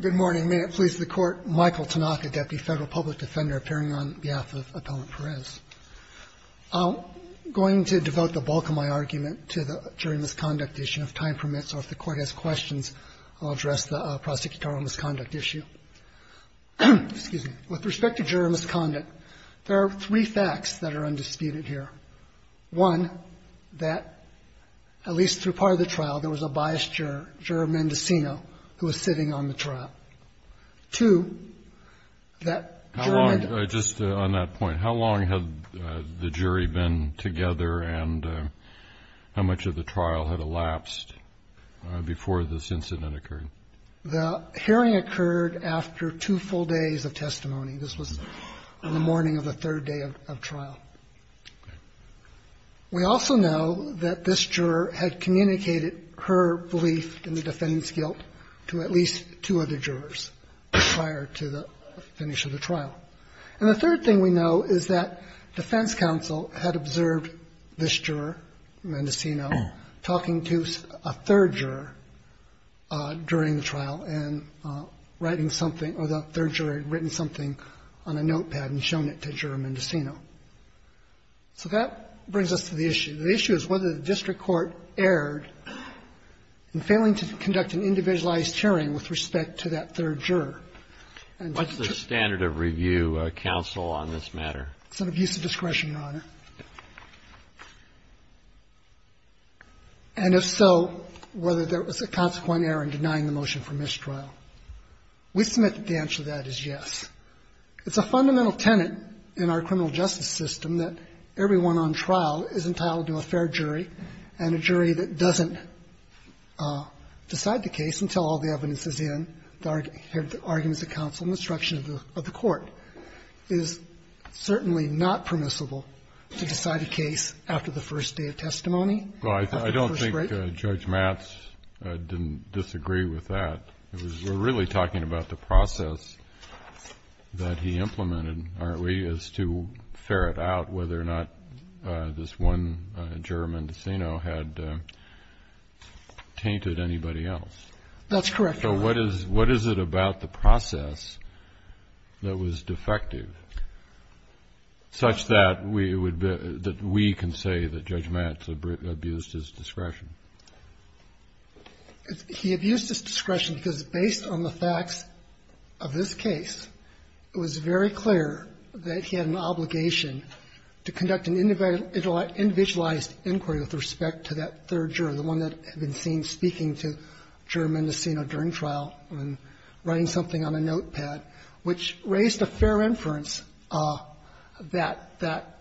Good morning. May it please the Court. Michael Tanaka, Deputy Federal Public Defender, appearing on behalf of Appellant Perez. I'm going to devote the bulk of my argument to the jury misconduct issue, if time permits, or if the Court has questions, I'll address the prosecutorial misconduct issue. Excuse me. With respect to jury misconduct, there are three facts that are undisputed here. One, that at least through part of the trial, there was a biased juror, juror Mendocino, who was sitting on the trial. Two, that juror... Just on that point, how long had the jury been together and how much of the trial had elapsed before this incident occurred? The hearing occurred after two full days of testimony. This was on the morning of the third day of trial. We also know that this juror had communicated her belief in the defendant's guilt to at least two other jurors prior to the finish of the trial. And the third thing we know is that defense counsel had observed this juror, Mendocino, talking to a third juror during the trial and writing something, or the third juror had written something on a notepad and shown it to Juror Mendocino. So that brings us to the issue. The issue is whether the district court erred in failing to conduct an individualized hearing with respect to that third juror. And... What's the standard of review, counsel, on this matter? It's an abuse of discretion, Your Honor. And if so, whether there was a consequent error in denying the motion for mistrial. We submit that the answer to that is yes. It's a fundamental tenet in our criminal justice system that everyone on trial is entitled to a fair jury, and a jury that doesn't decide the case until all the evidence is in, the arguments of counsel and instruction of the court, is certainly not permissible to decide a case after the first day of testimony, after the first break. Well, I don't think Judge Matz didn't disagree with that. We're really talking about the process that he implemented, aren't we, as to ferret out whether or not this one juror, Mendocino, had tainted anybody else. That's correct, Your Honor. So what is it about the process that was defective such that we can say that Judge Matz abused his discretion? He abused his discretion because, based on the facts of this case, it was very clear that he had an obligation to conduct an individualized inquiry with respect to that third juror, the one that had been seen speaking to Juror Mendocino during trial and writing something on a notepad, which raised a fair inference that that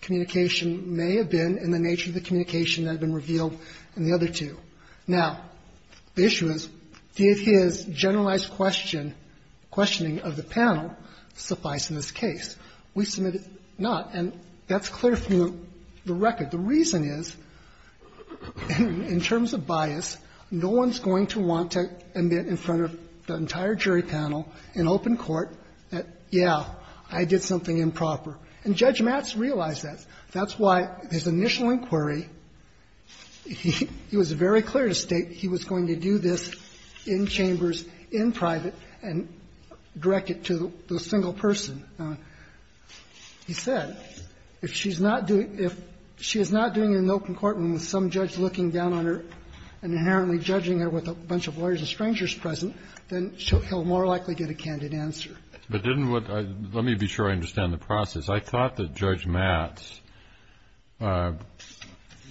communication may have been in the nature of the communication that had been revealed in the other two. Now, the issue is, did his generalized question of the panel suffice in this case? We submitted not, and that's clear from the record. The reason is, in terms of bias, no one's going to want to admit in front of the entire jury panel in open court that, yeah, I did something improper. And Judge Matz realized that. That's why his initial inquiry, he was very clear to state he was going to do this in chambers, in private, and direct it to the single person. He said, if she's not doing it in open court and with some judge looking down on her and inherently judging her with a bunch of lawyers and strangers present, then he'll more likely get a candid answer. But let me be sure I understand the process. I thought that Judge Matz,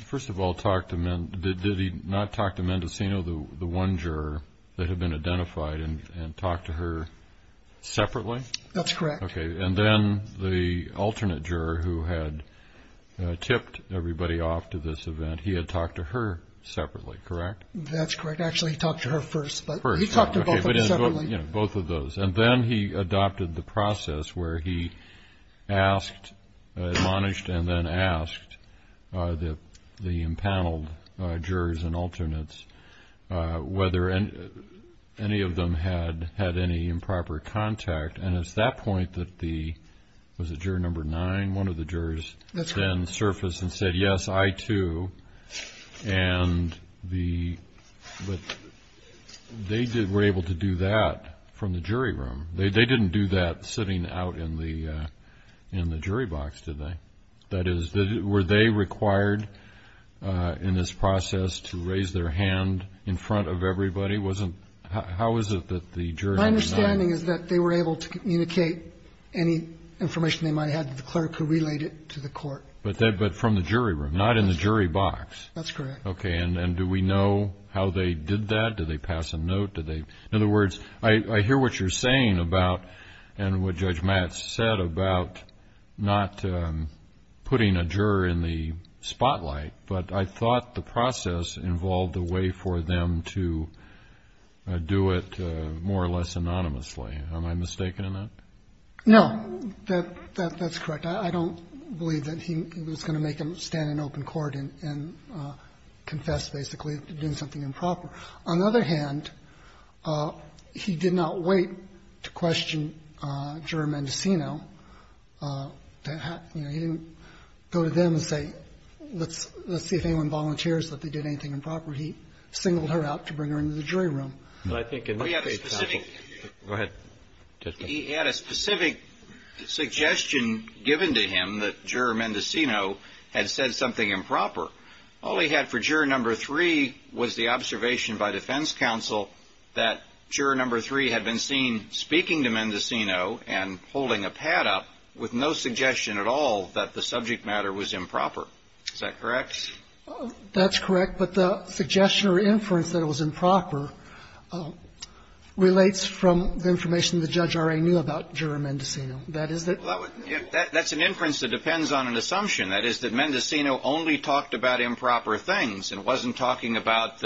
first of all, did he not talk to Mendocino, the one juror that had been identified, and talk to her separately? That's correct. Okay, and then the alternate juror who had tipped everybody off to this event, he had talked to her separately, correct? That's correct. Actually, he talked to her first. But he talked to both of them separately. Both of those. And then he adopted the process where he admonished and then asked the impaneled jurors and alternates whether any of them had any improper contact. And it's that point that the, was it juror number nine? One of the jurors then surfaced and said, yes, I too. And the, but they were able to do that from the jury room. They didn't do that sitting out in the jury box, did they? That is, were they required in this process to raise their hand in front of everybody? Wasn't, how is it that the jury number nine? My understanding is that they were able to communicate any information they might have to the clerk who relayed it to the court. But from the jury room, not in the jury box. That's correct. Okay. And do we know how they did that? Did they pass a note? Did they, in other words, I hear what you're saying about, and what Judge Matt said about not putting a juror in the spotlight. But I thought the process involved a way for them to do it more or less anonymously. Am I mistaken in that? No. That's correct. I don't believe that he was going to make them stand in open court and confess, basically, to doing something improper. On the other hand, he did not wait to question Juror Mendocino. You know, he didn't go to them and say, let's see if anyone volunteers, that they did anything improper. He singled her out to bring her into the jury room. But I think it must be possible. Go ahead. He had a specific suggestion given to him that Juror Mendocino had said something improper. All he had for Juror No. 3 was the observation by defense counsel that Juror No. 3 had been seen speaking to Mendocino and holding a pad up with no suggestion at all that the subject matter was improper. Is that correct? That's correct. But the suggestion or inference that it was improper relates from the information the judge already knew about Juror Mendocino. That is that that's an inference that depends on an assumption. That is that Mendocino only talked about improper things and wasn't talking about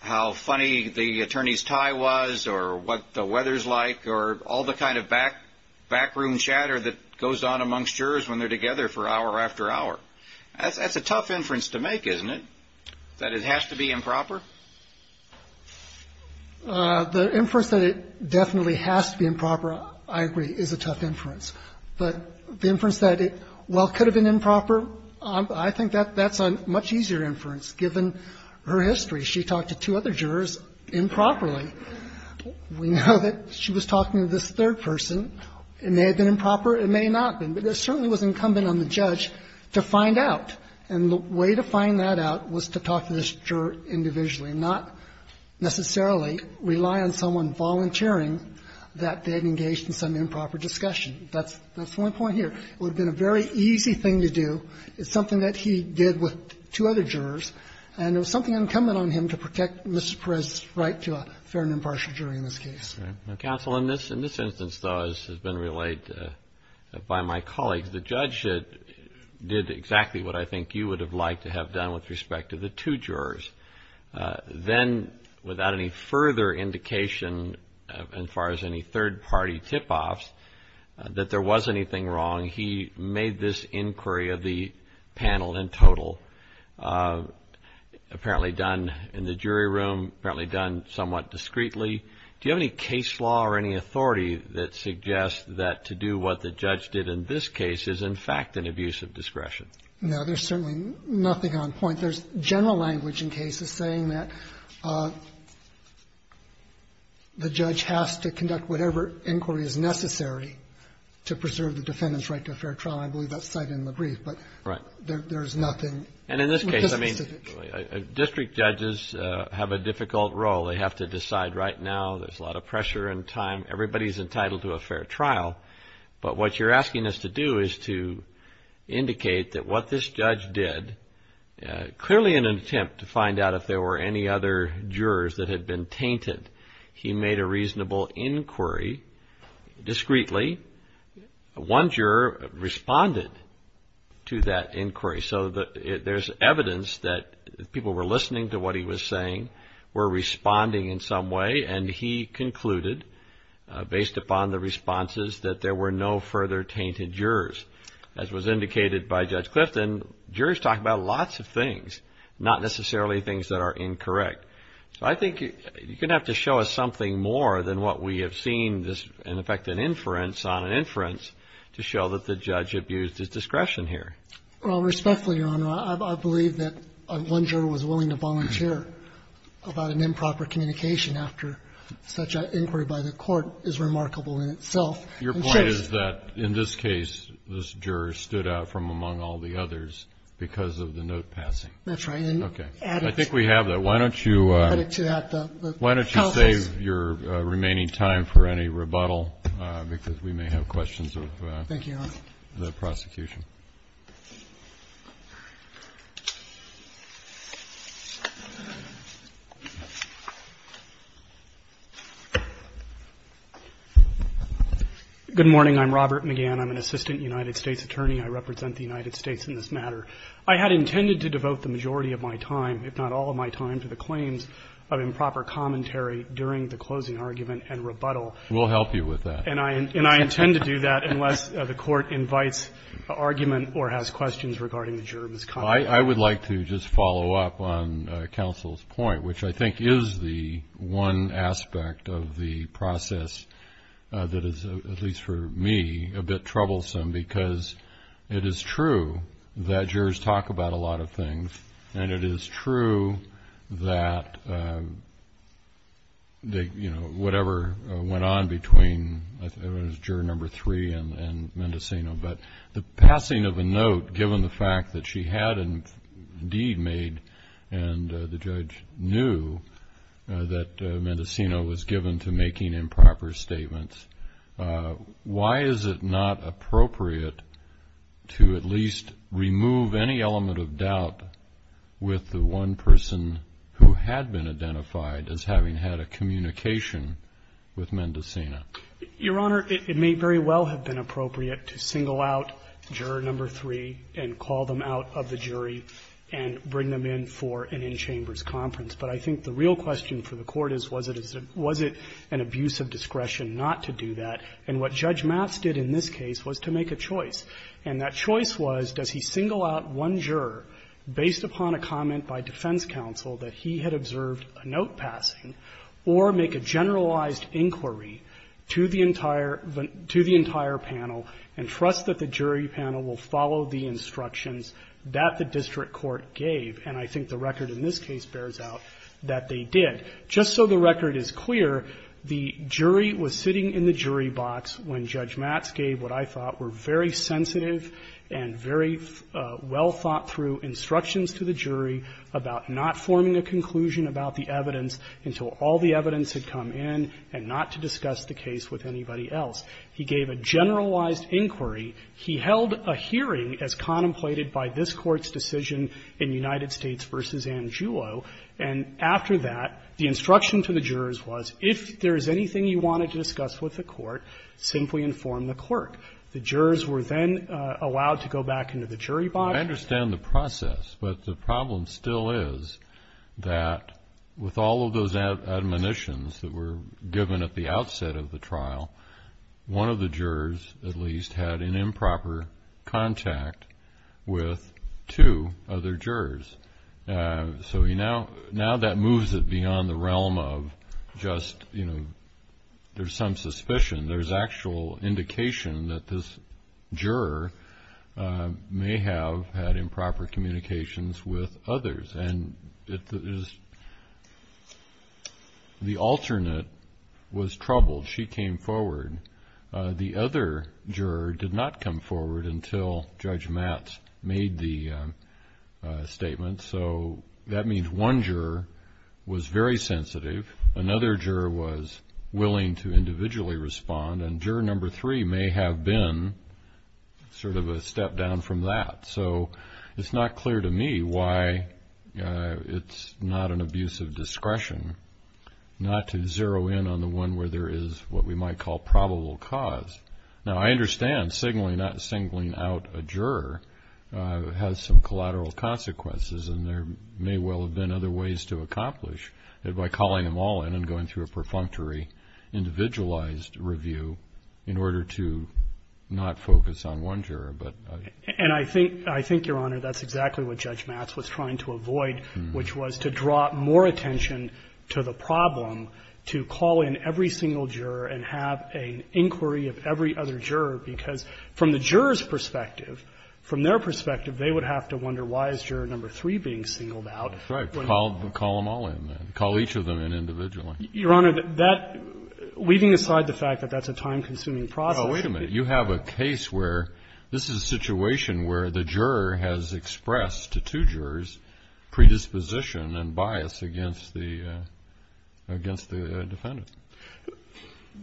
how funny the attorney's tie was or what the weather's like or all the kind of backroom chatter that goes on amongst jurors when they're together for hour after hour. That's a tough inference to make, isn't it? That it has to be improper? The inference that it definitely has to be improper, I agree, is a tough inference. But the inference that it, while it could have been improper, I think that's a much easier inference given her history. She talked to two other jurors improperly. We know that she was talking to this third person. It may have been improper. It may not have been. But it certainly was incumbent on the judge to find out. And the way to find that out was to talk to this juror individually, not necessarily rely on someone volunteering that they had engaged in some improper discussion. That's the only point here. It would have been a very easy thing to do. It's something that he did with two other jurors, and it was something incumbent on him to protect Mr. Perez's right to a fair and impartial jury in this case. Right. Counsel, in this instance, though, as has been relayed by my colleagues, the judge did exactly what I think you would have liked to have done with respect to the two jurors. Then, without any further indication, as far as any third-party tip-offs, that there was anything wrong, he made this inquiry of the panel in total, apparently done in the jury room, apparently done somewhat discreetly. Do you have any case law or any authority that suggests that to do what the judge did in this case is, in fact, an abuse of discretion? No. There's certainly nothing on point. There's general language in cases saying that the judge has to conduct whatever inquiry is necessary to preserve the defendant's right to a fair trial. I believe that's cited in the brief. Right. But there's nothing too specific. And in this case, I mean, district judges have a difficult role. They have to decide right now. There's a lot of pressure and time. Everybody's entitled to a fair trial. But what you're asking us to do is to indicate that what this judge did, clearly in an attempt to find out if there were any other jurors that had been tainted, he made a reasonable inquiry discreetly. One juror responded to that inquiry. So there's evidence that people were listening to what he was saying, were responding in some way, and he concluded, based upon the responses, that there were no further tainted jurors. As was indicated by Judge Clifton, jurors talk about lots of things, not necessarily things that are incorrect. So I think you're going to have to show us something more than what we have seen, in effect, an inference on an inference to show that the judge abused his discretion here. Well, respectfully, Your Honor, I believe that one juror was willing to volunteer about an improper communication after such an inquiry by the court is remarkable in itself. And so your point is that, in this case, this juror stood out from among all the others because of the note passing. That's right. Okay. I think we have that. Why don't you save your remaining time for any rebuttal, because we may have questions of the prosecution. Thank you, Your Honor. Good morning. I'm Robert McGann. I'm an assistant United States attorney. I represent the United States in this matter. I had intended to devote the majority of my time, if not all of my time, to the claims of improper commentary during the closing argument and rebuttal. We'll help you with that. And I intend to do that unless the court invites an argument or has questions regarding the juror's comment. I would like to just follow up on counsel's point, which I think is the one aspect of the process that is, at least for me, a bit troublesome, because it is true that jurors talk about a lot of things, and it is true that, you know, whatever went on between juror number three and Mendocino, but the passing of a note, given the fact that she had, indeed, made, and the judge knew that Mendocino was given to making improper statements, why is it not appropriate to at least remove any element of doubt with the one person who had been identified as having had a communication with Your Honor, it may very well have been appropriate to single out juror number three and call them out of the jury and bring them in for an in-chambers conference. But I think the real question for the Court is, was it an abuse of discretion not to do that? And what Judge Matz did in this case was to make a choice, and that choice was, does he single out one juror based upon a comment by defense counsel that he had observed a note passing, or make a generalized inquiry to the entire panel and trust that the jury panel will follow the instructions that the district court gave, and I think the record in this case bears out that they did. Just so the record is clear, the jury was sitting in the jury box when Judge Matz gave what I thought were very sensitive and very well thought through instructions to the jury about not forming a conclusion about the evidence until all the evidence had come in, and not to discuss the case with anybody else. He gave a generalized inquiry. He held a hearing as contemplated by this Court's decision in United States v. Angiulo. And after that, the instruction to the jurors was, if there is anything you wanted to discuss with the Court, simply inform the clerk. The jurors were then allowed to go back into the jury box. I understand the process, but the problem still is that with all of those admonitions that were given at the outset of the trial, one of the jurors at least had an improper contact with two other jurors. So now that moves it beyond the realm of just, you know, there's some suspicion. There's actual indication that this juror may have had improper communications with others. And the alternate was troubled. She came forward. The other juror did not come forward until Judge Matz made the statement. So that means one juror was very sensitive. Another juror was willing to individually respond. And juror number three may have been sort of a step down from that. So it's not clear to me why it's not an abuse of discretion not to zero in on the one where there is what we might call probable cause. Now, I understand signaling out a juror has some collateral consequences, and there may well have been other ways to accomplish it by calling them all in and going through a perfunctory individualized review in order to not focus on one juror, but I don't know. And I think, Your Honor, that's exactly what Judge Matz was trying to avoid, which was to draw more attention to the problem, to call in every single juror and have an inquiry of every other juror, because from the juror's perspective, from their point of view, that's not really being singled out. That's right. Call them all in. Call each of them in individually. Your Honor, that, leaving aside the fact that that's a time-consuming process. Now, wait a minute. You have a case where this is a situation where the juror has expressed to two jurors predisposition and bias against the defendant.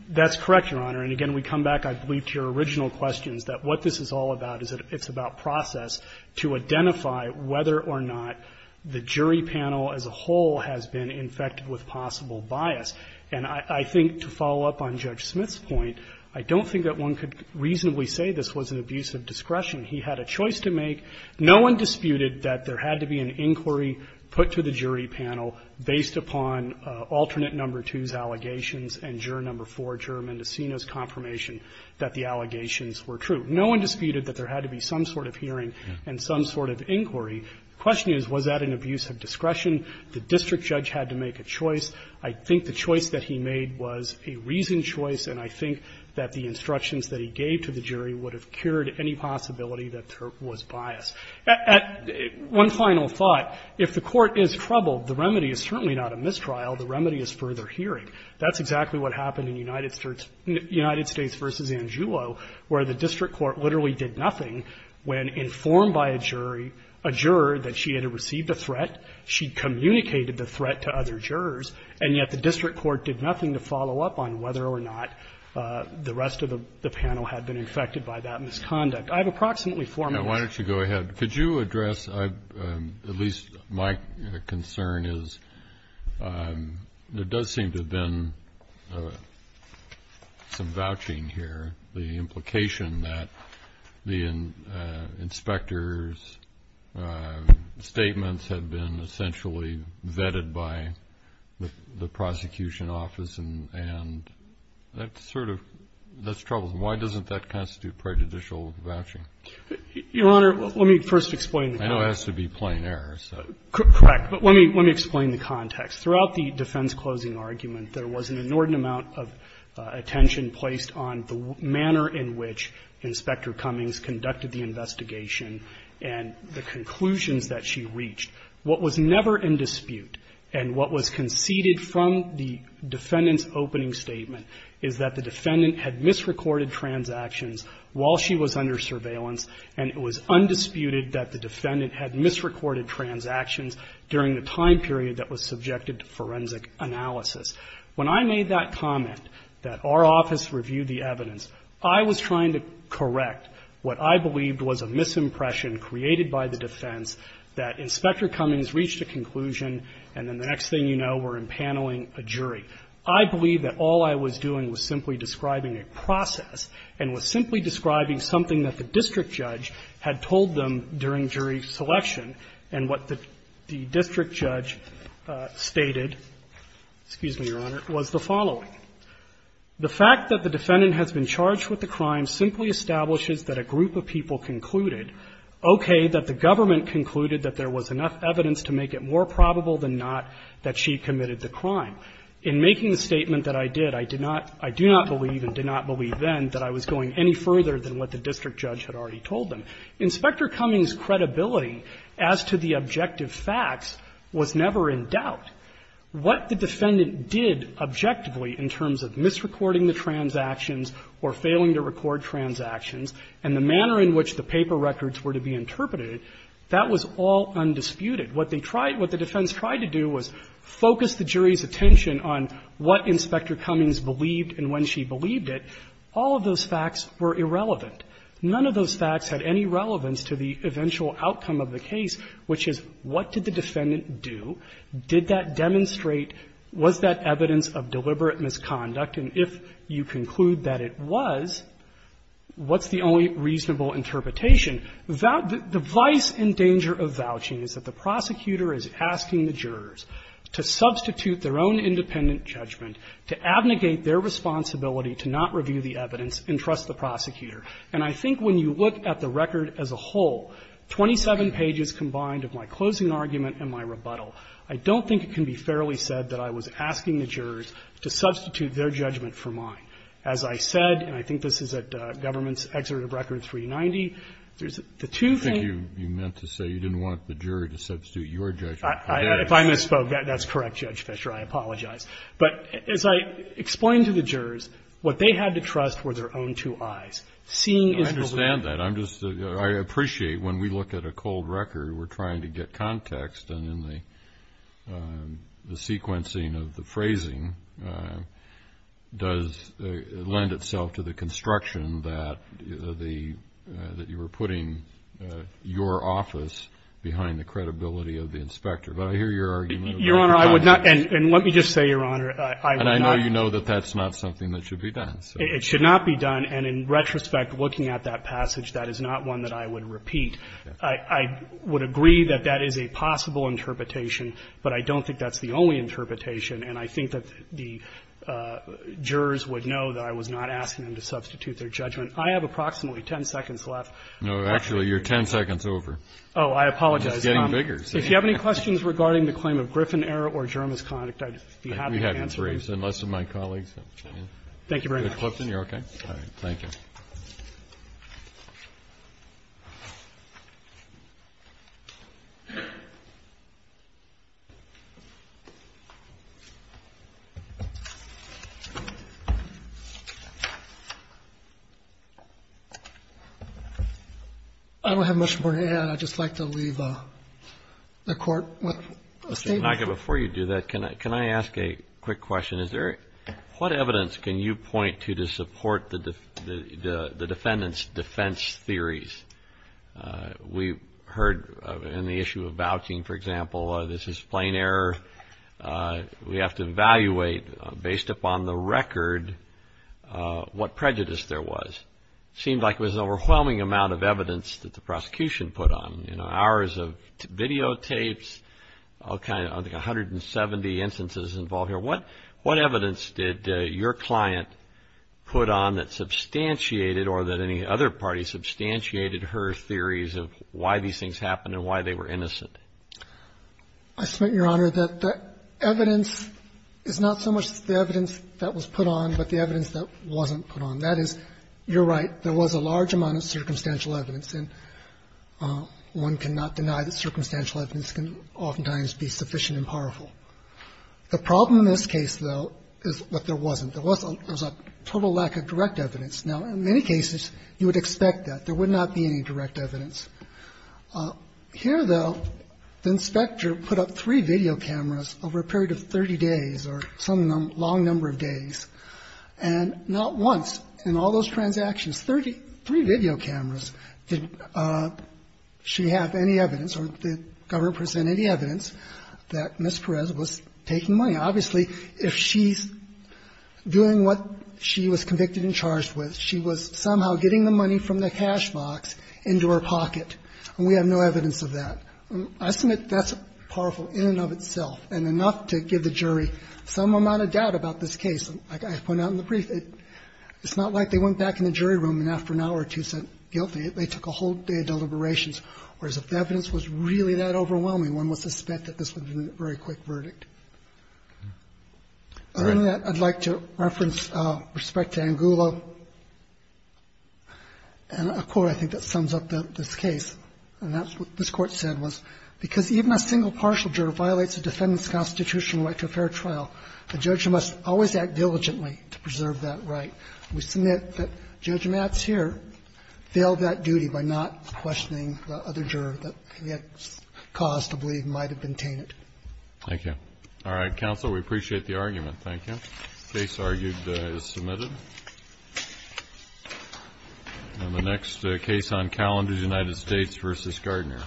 That's correct, Your Honor. And again, we come back, I believe, to your original questions, that what this is all about is a process to identify whether or not the jury panel as a whole has been infected with possible bias. And I think, to follow up on Judge Smith's point, I don't think that one could reasonably say this was an abuse of discretion. He had a choice to make. No one disputed that there had to be an inquiry put to the jury panel based upon alternate number two's allegations and juror number four, Juremendecino's, confirmation that the allegations were true. No one disputed that there had to be some sort of hearing and some sort of inquiry. The question is, was that an abuse of discretion? The district judge had to make a choice. I think the choice that he made was a reasoned choice, and I think that the instructions that he gave to the jury would have cured any possibility that there was bias. One final thought. If the Court is troubled, the remedy is certainly not a mistrial. The remedy is further hearing. That's exactly what happened in United States v. Angiulo, where the district court literally did nothing when informed by a jury, a juror, that she had received a threat. She communicated the threat to other jurors, and yet the district court did nothing to follow up on whether or not the rest of the panel had been infected by that misconduct. I have approximately four minutes. Actually, go ahead. Could you address, at least my concern is, there does seem to have been some vouching here, the implication that the inspector's statements had been essentially vetted by the prosecution office, and that sort of troubles me. Why doesn't that constitute prejudicial vouching? Your Honor, let me first explain the context. I know it has to be plain error, so. Correct. But let me explain the context. Throughout the defense closing argument, there was an inordinate amount of attention placed on the manner in which Inspector Cummings conducted the investigation and the conclusions that she reached. What was never in dispute and what was conceded from the defendant's opening statement is that the defendant had misrecorded transactions while she was under surveillance, and it was undisputed that the defendant had misrecorded transactions during the time period that was subjected to forensic analysis. When I made that comment that our office reviewed the evidence, I was trying to correct what I believed was a misimpression created by the defense that Inspector Cummings reached a conclusion, and then the next thing you know, we're impaneling a jury. I believe that all I was doing was simply describing a process and was simply describing something that the district judge had told them during jury selection and what the district judge stated, excuse me, Your Honor, was the following. The fact that the defendant has been charged with a crime simply establishes that a group of people concluded, okay, that the government concluded that there was enough evidence to make it more probable than not that she had committed the crime. In making the statement that I did, I did not – I do not believe and did not believe then that I was going any further than what the district judge had already told them. Inspector Cummings' credibility as to the objective facts was never in doubt. What the defendant did objectively in terms of misrecording the transactions or failing to record transactions and the manner in which the paper records were to be interpreted, that was all undisputed. What they tried – what the defense tried to do was focus the jury's attention on what Inspector Cummings believed and when she believed it. All of those facts were irrelevant. None of those facts had any relevance to the eventual outcome of the case, which is what did the defendant do? Did that demonstrate – was that evidence of deliberate misconduct? And if you conclude that it was, what's the only reasonable interpretation? The vice and danger of vouching is that the prosecutor is asking the jurors to substitute their own independent judgment, to abnegate their responsibility to not review the evidence and trust the prosecutor. And I think when you look at the record as a whole, 27 pages combined of my closing argument and my rebuttal, I don't think it can be fairly said that I was asking the jurors to substitute their judgment for mine. As I said, and I think this is at Government's Exeret of Record 390, there's the two things – You think you meant to say you didn't want the jury to substitute your judgment for theirs? If I misspoke, that's correct, Judge Fischer. I apologize. But as I explained to the jurors, what they had to trust were their own two eyes. Seeing is – I understand that. I'm just – I appreciate when we look at a cold record, we're trying to get context and in the sequencing of the phrasing does lend itself to the construction that the – that you were putting your office behind the credibility of the inspector. But I hear your argument about the context. Your Honor, I would not – and let me just say, Your Honor, I would not – And I know you know that that's not something that should be done. It should not be done. And in retrospect, looking at that passage, that is not one that I would repeat. I would agree that that is a possible interpretation, but I don't think that's the only interpretation. And I think that the jurors would know that I was not asking them to substitute their judgment. I have approximately 10 seconds left. No, actually, you're 10 seconds over. Oh, I apologize. It's getting bigger. If you have any questions regarding the claim of Griffin error or Jermis conduct, I'd be happy to answer them. I think we have briefs, and most of my colleagues have. Thank you very much. Mr. Clifton, you're okay? All right. Thank you. I don't have much more to add. I'd just like to leave the Court with a statement. Mr. Tanaka, before you do that, can I ask a quick question? What evidence can you point to to support the defendant's defense theories? We heard in the issue of vouching, for example, this is plain error. We have to evaluate, based upon the record, what prejudice there was. Seemed like it was an overwhelming amount of evidence that the prosecution put on, you know, hours of videotapes, I think 170 instances involved here. What evidence did your client put on that substantiated, or that any other party substantiated her theories of why these things happened and why they were innocent? I submit, Your Honor, that the evidence is not so much the evidence that was put on, but the evidence that wasn't put on. That is, you're right, there was a large amount of circumstantial evidence. And one cannot deny that circumstantial evidence can oftentimes be sufficient and powerful. The problem in this case, though, is that there wasn't. There was a total lack of direct evidence. Now, in many cases, you would expect that. There would not be any direct evidence. Here, though, the inspector put up three video cameras over a period of 30 days or some long number of days, and not once in all those transactions, three video cameras, did she have any evidence or the government present any evidence that Ms. Perez was taking money. Obviously, if she's doing what she was convicted and charged with, she was somehow getting the money from the cash box into her pocket, and we have no evidence of that. I submit that's powerful in and of itself and enough to give the jury some amount of doubt about this case. Like I pointed out in the brief, it's not like they went back in the jury room and asked for an hour or two and said, guilty. They took a whole day of deliberations, whereas if the evidence was really that overwhelming, one would suspect that this would have been a very quick verdict. Other than that, I'd like to reference respect to Angulo and a quote, I think, that sums up this case, and that's what this Court said, was, because even a single partial juror violates a defendant's constitutional right to a fair trial, the judge must always act diligently to preserve that right. We submit that Judge Mats here failed that duty by not questioning the other juror that he had caused to believe might have been tainted. Thank you. All right, counsel, we appreciate the argument. Thank you. The case argued is submitted. And the next case on calendar is United States v. Gardner.